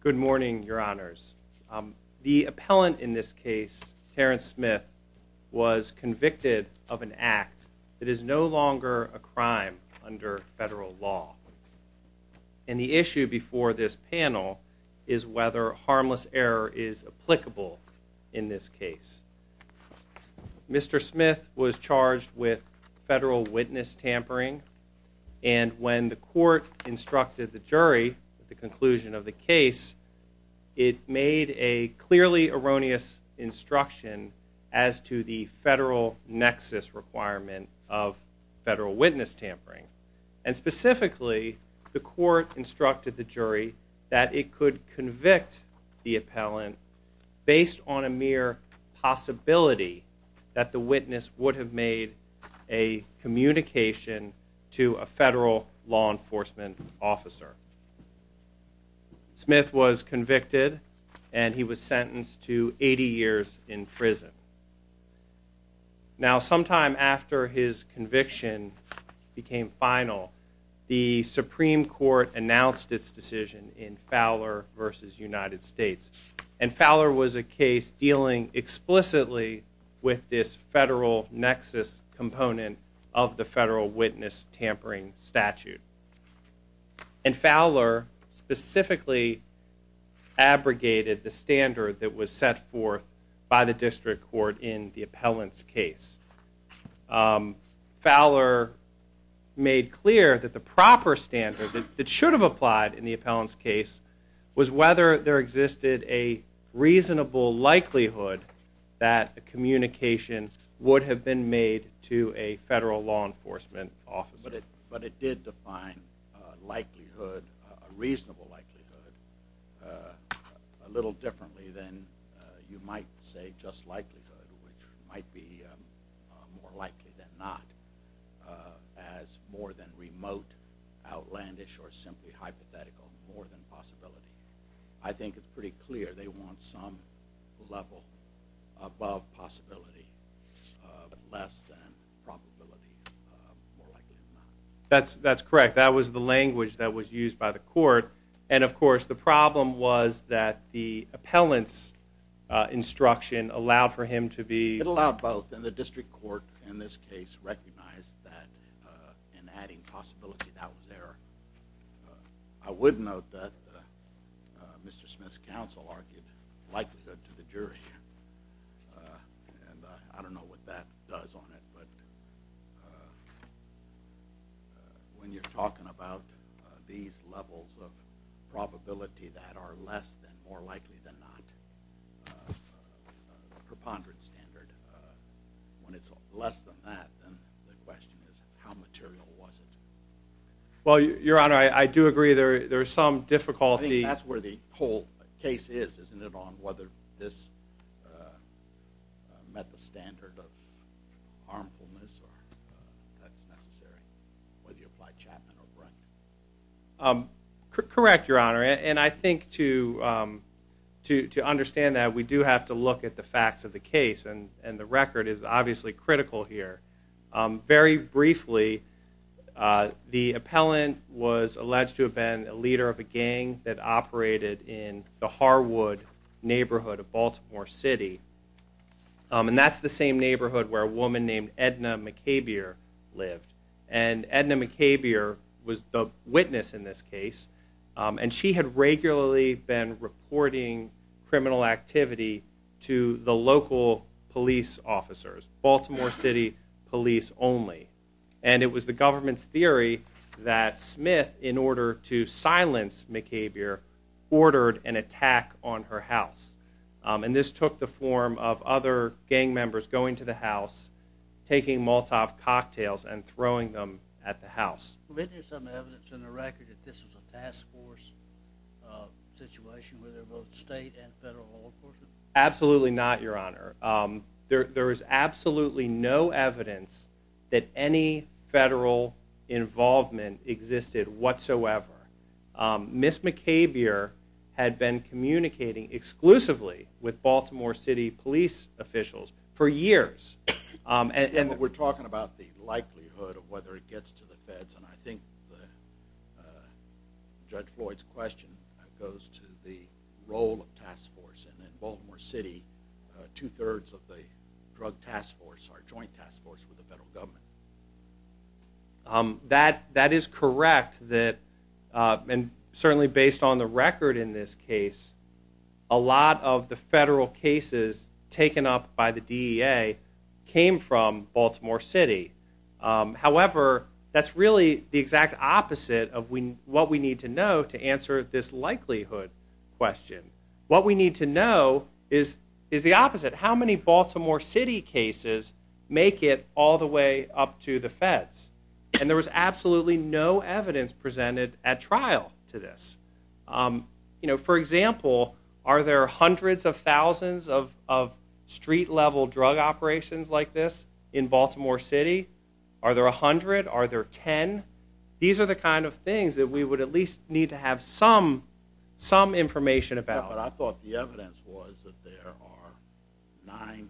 Good morning, your honors. The appellant in this case, Terrence Smith, was convicted of an act that is no longer a crime under federal law. And the issue before this panel is whether harmless error is applicable in this case. Mr. Smith was charged with federal witness tampering, and when the court instructed the jury at the conclusion of the case, it made a clearly erroneous instruction as to the federal nexus requirement of federal witness tampering. And specifically, the court instructed the jury that it could convict the appellant based on a mere possibility that the witness would have made a communication to a federal law enforcement officer. Smith was convicted and he was sentenced to 80 years in prison. Now sometime after his conviction became final, the Supreme Court announced its decision in Fowler v. United States. And Fowler was a case dealing explicitly with this federal nexus component of the federal witness tampering statute. And Fowler specifically abrogated the standard that was set forth by the district court in the appellant's case. Fowler made clear that the proper standard that should have applied in the appellant's case was whether there existed a reasonable likelihood that a communication would have been made to a federal law enforcement officer. But it did define likelihood, a reasonable likelihood, a little differently than you might say just likelihood, which might be more likely than not as more than remote, outlandish, or simply hypothetical, more than possibility. I think it's pretty clear they want some level above possibility, less than probability, more likely than not. That's correct. That was the language that was used by the court. And of course the problem was that the appellant's instruction allowed for him to be... It allowed both. And the district court in this case recognized that in adding possibility that was there. I would note that Mr. Smith's counsel argued likelihood to the jury. And I don't know what that does on it. But when you're talking about these levels of probability that are less than, more likely than not, preponderance standard, when it's less than that, then the question is how material was it? Well, Your Honor, I do agree there's some difficulty... I think that's where the whole case is, isn't it, on whether this met the standard of harmfulness, or that's necessary, whether you apply Chapman or Bryant? Correct, Your Honor. And I think to understand that, we do have to look at the facts of the case. And the record is obviously critical here. Very briefly, the appellant was alleged to have been a leader of a gang that operated in the Harwood neighborhood of Baltimore City. And that's the same neighborhood where a woman named Edna McCabeer lived. And Edna McCabeer was the witness in this case. And she had regularly been reporting criminal activity to the local police officers. Baltimore City police only. And it was the government's theory that Smith, in order to silence McCabeer, ordered an attack on her house. And this took the form of other gang members going to the house, taking Molotov cocktails and throwing them at the house. Was there some evidence in the record that this was a task force situation, where there were both state and federal law enforcement? Absolutely not, Your Honor. There is absolutely no evidence that any federal involvement existed whatsoever. Ms. McCabeer had been communicating exclusively with Baltimore City police officials for years. We're talking about the likelihood of whether it gets to the feds. And I think Judge Floyd's question goes to the role of task force. And in Baltimore City, two-thirds of the drug task force are joint task force with the federal government. That is correct. And certainly based on the record in this case, a lot of the federal cases taken up by the DEA came from Baltimore City. However, that's really the exact opposite of what we need to know to answer this likelihood question. What we need to know is the opposite. How many Baltimore City cases make it all the way up to the feds? And there was absolutely no evidence presented at trial to this. For example, are there hundreds of thousands of street-level drug operations like this in Baltimore City? Are there 100? Are there 10? These are the kind of things that we would at least need to have some information about. Yeah, but I thought the evidence was that there are nine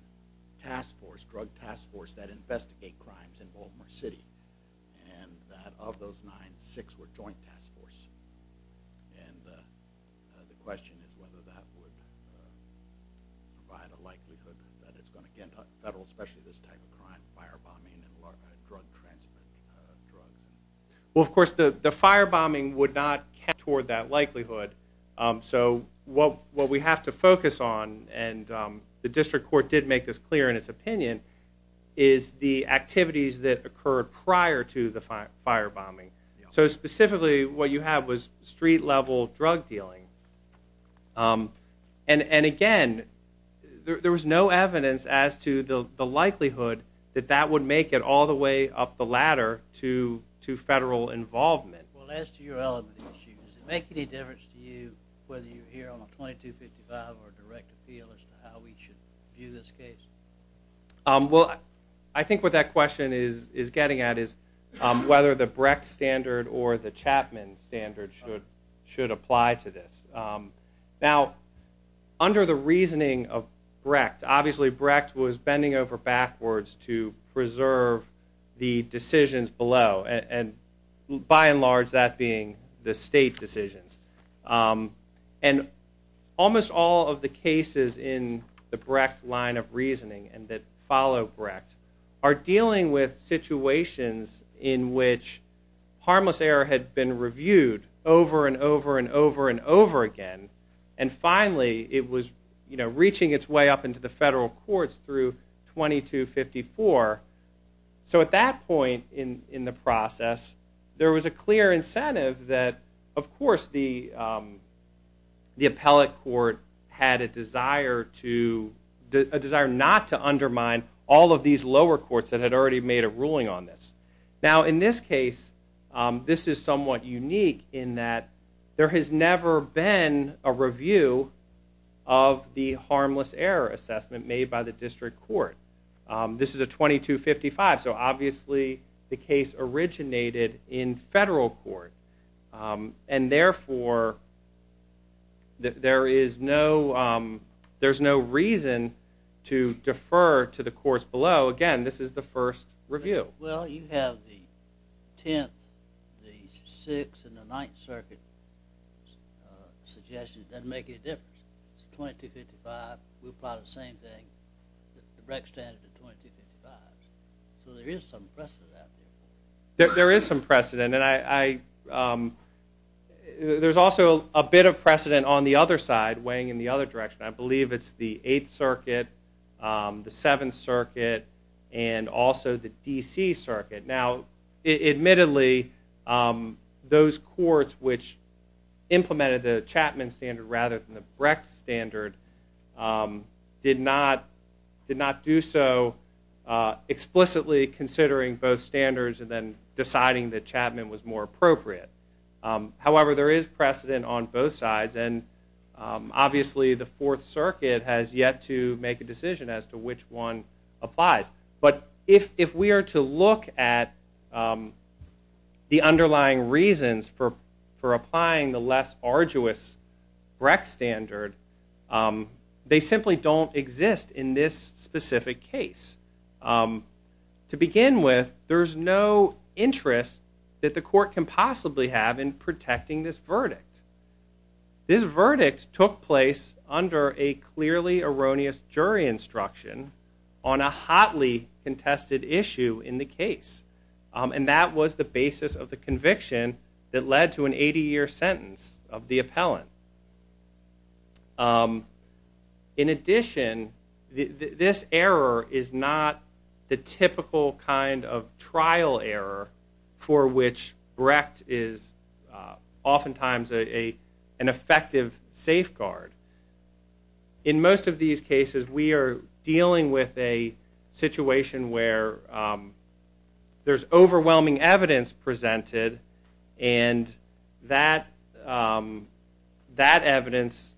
task force, drug task force that investigate crimes in Baltimore City, and that of those nine, six were joint task force. And the question is whether that would provide a likelihood that it's going to get to the federal, especially this type of crime, firebombing and drug trafficking. Well, of course, the firebombing would not count toward that likelihood. So what we have to focus on, and the district court did make this clear in its opinion, is the activities that occurred prior to the firebombing. So specifically what you have was street-level drug dealing. And again, there was no evidence as to the likelihood that that would make it all the way up the ladder to federal involvement. Well, as to your element issue, does it make any difference to you whether you're here on a 2255 or a direct appeal as to how we should view this case? Well, I think what that question is getting at is whether the Brecht standard or the Chapman standard should apply to this. Now, under the reasoning of Brecht, obviously Brecht was bending over backwards to preserve the decisions below, and by and large that being the state decisions. And almost all of the cases in the Brecht line of reasoning and that follow Brecht are dealing with situations in which harmless error had been reviewed over and over and over and over again. And finally, it was reaching its way up into the federal courts through 2254. So at that point in the process, there was a clear incentive that, of course, the appellate court had a desire not to undermine all of these lower courts that had already made a ruling on this. Now, in this case, this is somewhat unique in that there has never been a review of the harmless error assessment made by the district court. This is a 2255, so obviously the case originated in federal court. And therefore, there is no reason to defer to the courts below. Again, this is the first review. Well, you have the 10th, the 6th, and the 9th Circuit suggestions. It doesn't make any difference. It's 2255. We'll apply the same thing. The Brecht standard is 2255. So there is some precedent out there. There is some precedent, and there's also a bit of precedent on the other side, weighing in the other direction. I believe it's the 8th Circuit, the 7th Circuit, and also the DC Circuit. Now, admittedly, those courts which implemented the Chapman standard rather than the Brecht standard did not do so explicitly, considering both standards and then deciding that Chapman was more appropriate. However, there is precedent on both sides, and obviously the 4th Circuit has yet to make a decision as to which one applies. But if we are to look at the underlying reasons for applying the less arduous Brecht standard, they simply don't exist in this specific case. To begin with, there is no interest that the court can possibly have in protecting this verdict. This verdict took place under a clearly erroneous jury instruction on a hotly contested issue in the case, and that was the basis of the conviction that led to an 80-year sentence of the appellant. In addition, this error is not the typical kind of trial error for which Brecht is oftentimes an effective safeguard. In most of these cases, we are dealing with a situation where there's overwhelming evidence presented, and that evidence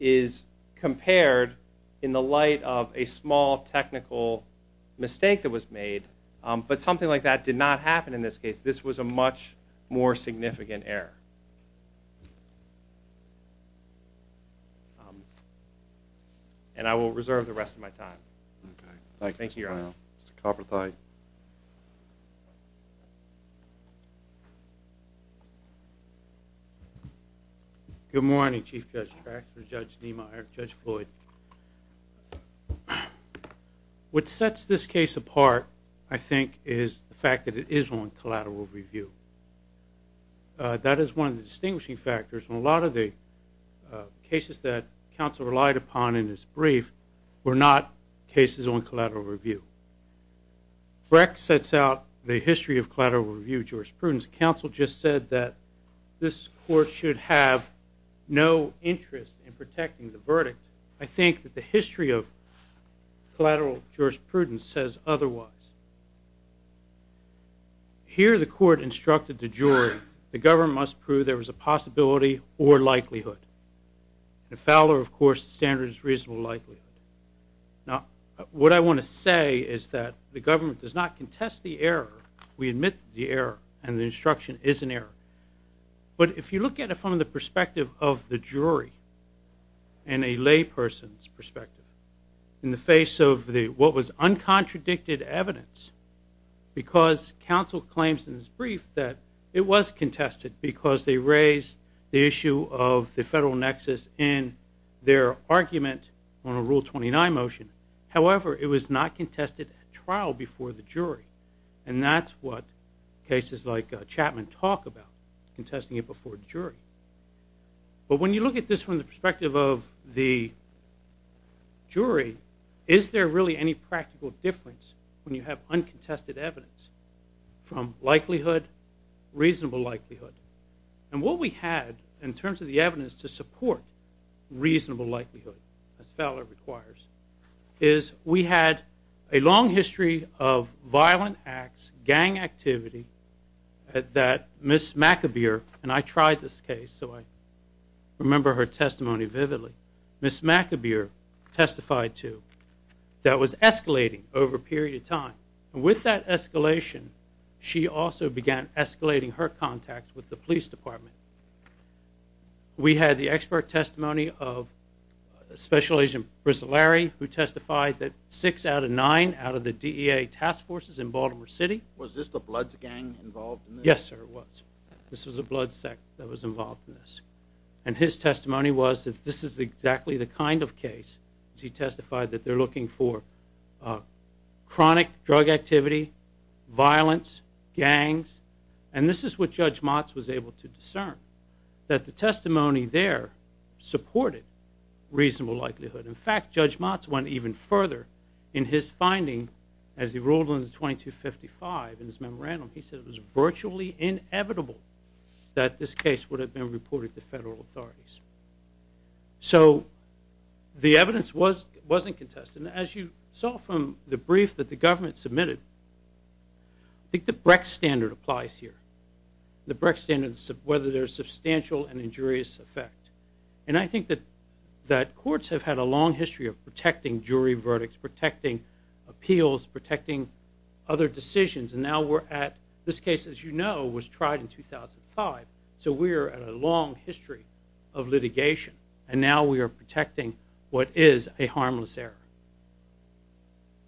is compared in the light of a small technical mistake that was made, but something like that did not happen in this case. This was a much more significant error. And I will reserve the rest of my time. Thank you, Your Honor. Good morning, Chief Judge Traxler, Judge Niemeyer, Judge Floyd. What sets this case apart, I think, is the fact that it is on collateral review. That is one of the distinguishing factors. A lot of the cases that counsel relied upon in his brief were not cases on collateral review. Brecht sets out the history of collateral review jurisprudence. Counsel just said that this court should have no interest in protecting the verdict. I think that the history of collateral jurisprudence says otherwise. Here, the court instructed the jury, the government must prove there was a possibility or likelihood. In Fowler, of course, the standard is reasonable likelihood. Now, what I want to say is that the government does not contest the error. We admit the error, and the instruction is an error. But if you look at it from the perspective of the jury and a layperson's perspective, in the face of what was uncontradicted evidence, because counsel claims in his brief that it was contested because they raised the issue of the federal nexus in their argument on a Rule 29 motion. However, it was not contested at trial before the jury. And that's what cases like Chapman talk about, contesting it before the jury. But when you look at this from the perspective of the jury, is there really any practical difference when you have uncontested evidence from likelihood, reasonable likelihood? And what we had in terms of the evidence to support reasonable likelihood, as Fowler requires, is we had a long history of violent acts, gang activity, that Ms. McAbeer, and I tried this case, so I remember her testimony vividly, Ms. McAbeer testified to, that was escalating over a period of time. And with that escalation, she also began escalating her contact with the police department. We had the expert testimony of Special Agent Bruce Larry, who testified that six out of nine out of the DEA task forces in Baltimore City. Was this the Bloods gang involved in this? Yes, sir, it was. This was the Bloods sect that was involved in this. And his testimony was that this is exactly the kind of case, as he testified, that they're looking for chronic drug activity, violence, gangs. And this is what Judge Motz was able to discern, that the testimony there supported reasonable likelihood. In fact, Judge Motz went even further in his finding, as he ruled in the 2255 in his memorandum, he said it was virtually inevitable that this case would have been reported to federal authorities. So the evidence wasn't contested. And as you saw from the brief that the government submitted, I think the Brecht standard applies here. The Brecht standard is whether there's substantial and injurious effect. And I think that courts have had a long history of protecting jury verdicts, protecting appeals, protecting other decisions. And now we're at, this case, as you know, was tried in 2005. So we are at a long history of litigation. And now we are protecting what is a harmless error.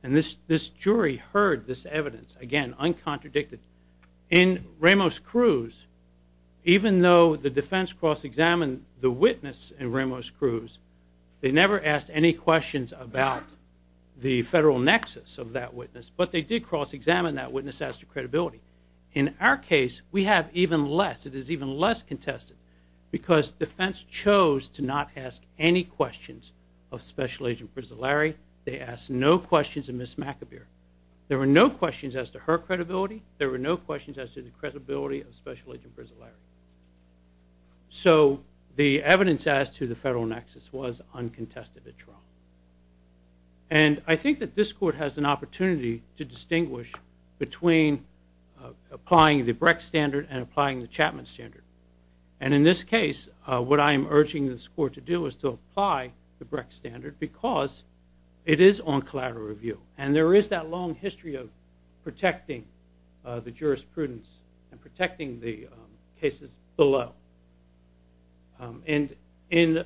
And this jury heard this evidence, again, uncontradicted. In Ramos-Cruz, even though the defense cross-examined the witness in Ramos-Cruz, they never asked any questions about the federal nexus of that witness. But they did cross-examine that witness as to credibility. In our case, we have even less. It is even less contested because defense chose to not ask any questions of Special Agent Brizolari. They asked no questions of Ms. McAbeer. There were no questions as to her credibility. There were no questions as to the credibility of Special Agent Brizolari. So the evidence as to the federal nexus was uncontested at trial. And I think that this court has an opportunity to distinguish between applying the Brecht standard and applying the Chapman standard. And in this case, what I am urging this court to do is to apply the Brecht standard because it is on collateral review. And there is that long history of protecting the jurisprudence and protecting the cases below. And if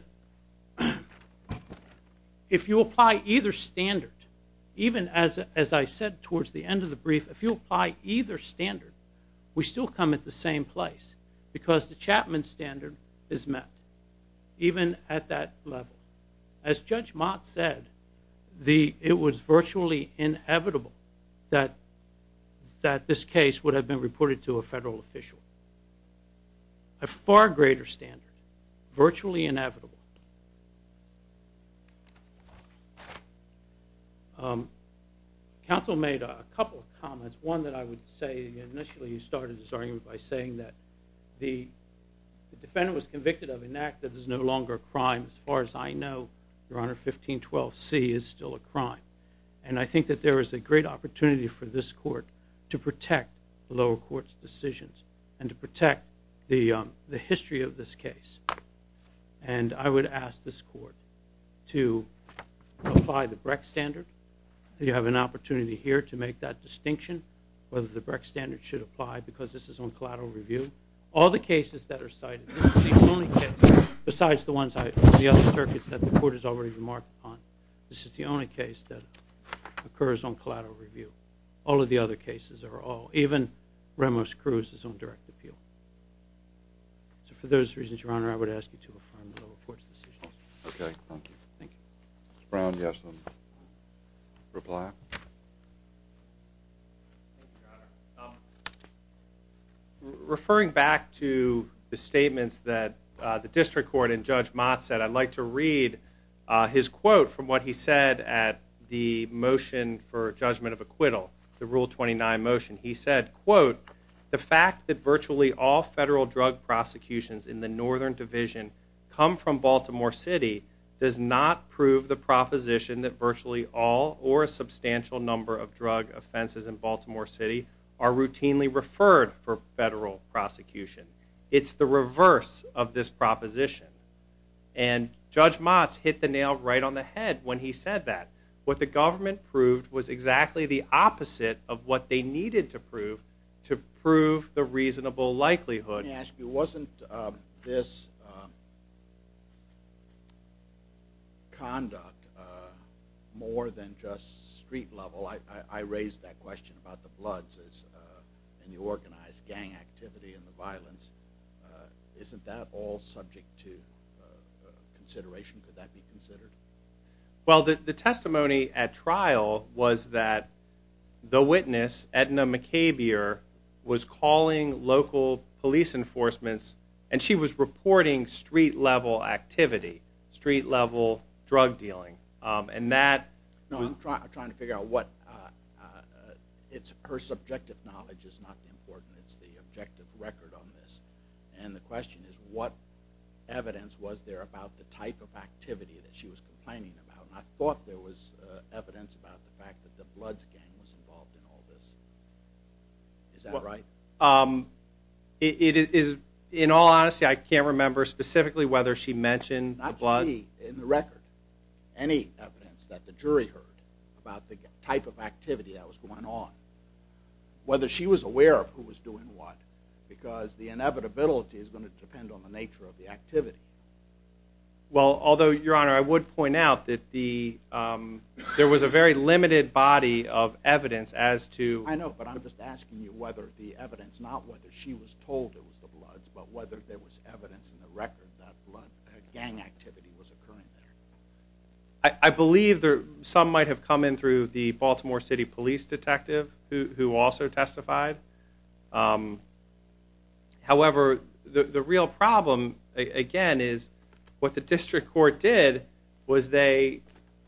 you apply either standard, even as I said towards the end of the brief, if you apply either standard, we still come at the same place because the Chapman standard is met, even at that level. As Judge Mott said, it was virtually inevitable that this case would have been reported to a federal official. A far greater standard, virtually inevitable. Counsel made a couple of comments. One that I would say initially he started his argument by saying that the defendant was convicted of an act that is no longer a crime. As far as I know, Your Honor, 1512C is still a crime. And I think that there is a great opportunity for this court to protect the lower court's decisions and to protect the history of this case. And I would ask this court to apply the Brecht standard. You have an opportunity here to make that distinction, whether the Brecht standard should apply because this is on collateral review. All the cases that are cited, this is the only case, besides the ones on the other circuits that the court has already remarked on, this is the only case that occurs on collateral review. All of the other cases are all, even Ramos-Cruz's own direct appeal. So for those reasons, Your Honor, I would ask you to affirm the lower court's decisions. Okay, thank you. Thank you. Mr. Brown, do you have some reply? Referring back to the statements that the district court and Judge Mott said, I'd like to read his quote from what he said at the motion for judgment of acquittal, the Rule 29 motion. He said, quote, The fact that virtually all federal drug prosecutions in the Northern Division come from Baltimore City does not prove the proposition that virtually all or a substantial number of drug offenses in Baltimore City are routinely referred for federal prosecution. It's the reverse of this proposition. And Judge Mott hit the nail right on the head when he said that. What the government proved was exactly the opposite of what they needed to prove to prove the reasonable likelihood. Let me ask you, wasn't this conduct more than just street level? I raised that question about the bloods and the organized gang activity and the violence. Isn't that all subject to consideration? Could that be considered? Well, the testimony at trial was that the witness, Edna McCabier, was calling local police enforcements, and she was reporting street-level activity, street-level drug dealing. No, I'm trying to figure out what. Her subjective knowledge is not important. It's the objective record on this. And the question is, what evidence was there about the type of activity that she was complaining about? I thought there was evidence about the fact that the bloods gang was involved in all this. Is that right? In all honesty, I can't remember specifically whether she mentioned the bloods. Not to me, in the record. Any evidence that the jury heard about the type of activity that was going on. Whether she was aware of who was doing what. Because the inevitability is going to depend on the nature of the activity. Well, although, Your Honor, I would point out that there was a very limited body of evidence as to... I know, but I'm just asking you whether the evidence, not whether she was told it was the bloods, but whether there was evidence in the record that gang activity was occurring there. I believe some might have come in through the Baltimore City police detective who also testified. However, the real problem, again, is what the district court did was they...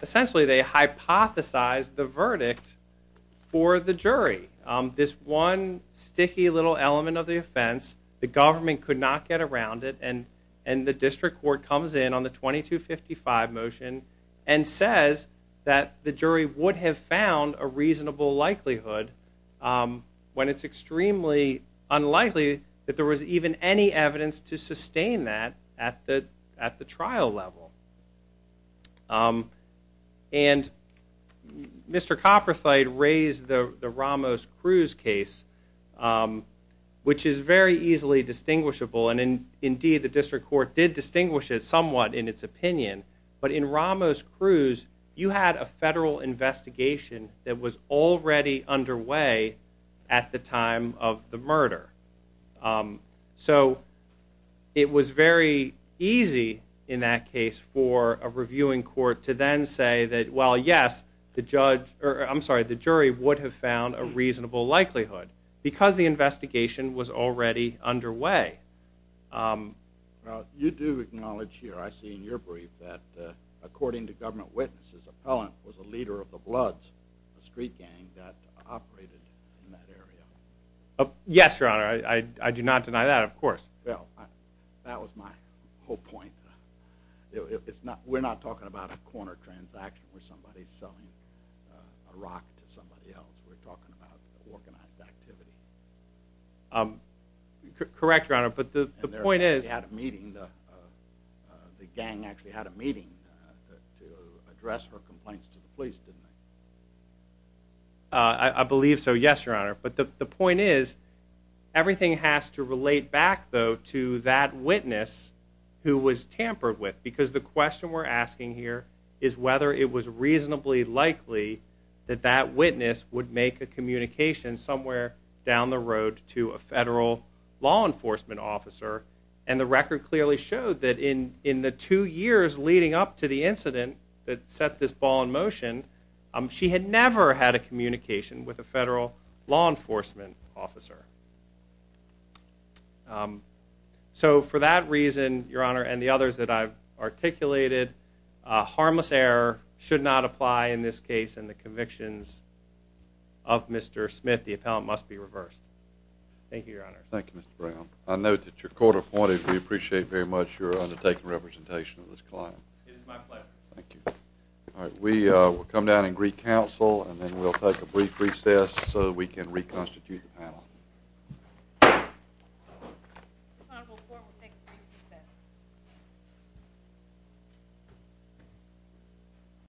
Essentially, they hypothesized the verdict for the jury. This one sticky little element of the offense, the government could not get around it, and the district court comes in on the 2255 motion and says that the jury would have found a reasonable likelihood when it's extremely unlikely that there was even any evidence to sustain that at the trial level. And Mr. Copperthwaite raised the Ramos-Cruz case, which is very easily distinguishable. And indeed, the district court did distinguish it somewhat in its opinion. But in Ramos-Cruz, you had a federal investigation that was already underway at the time of the murder. So it was very easy in that case for a reviewing court to then say that, well, yes, the jury would have found a reasonable likelihood because the investigation was already underway. Well, you do acknowledge here, I see in your brief, that according to government witnesses, Appellant was a leader of the Bloods, a street gang that operated in that area. Yes, Your Honor, I do not deny that, of course. Well, that was my whole point. We're not talking about a corner transaction where somebody's selling a rock to somebody else. We're talking about organized activity. Correct, Your Honor, but the point is... And they had a meeting, the gang actually had a meeting to address her complaints to the police, didn't they? I believe so, yes, Your Honor. But the point is, everything has to relate back, though, to that witness who was tampered with. Because the question we're asking here is whether it was reasonably likely that that witness would make a communication somewhere down the road to a federal law enforcement officer. And the record clearly showed that in the two years leading up to the incident that set this ball in motion, she had never had a communication with a federal law enforcement officer. So for that reason, Your Honor, and the others that I've articulated, a harmless error should not apply in this case, and the convictions of Mr. Smith, the Appellant, must be reversed. Thank you, Your Honor. Thank you, Mr. Brown. I note that your court appointed. We appreciate very much your undertaken representation of this client. It is my pleasure. Thank you. All right, we'll come down and recounsel, and then we'll take a brief recess so we can reconstitute the panel.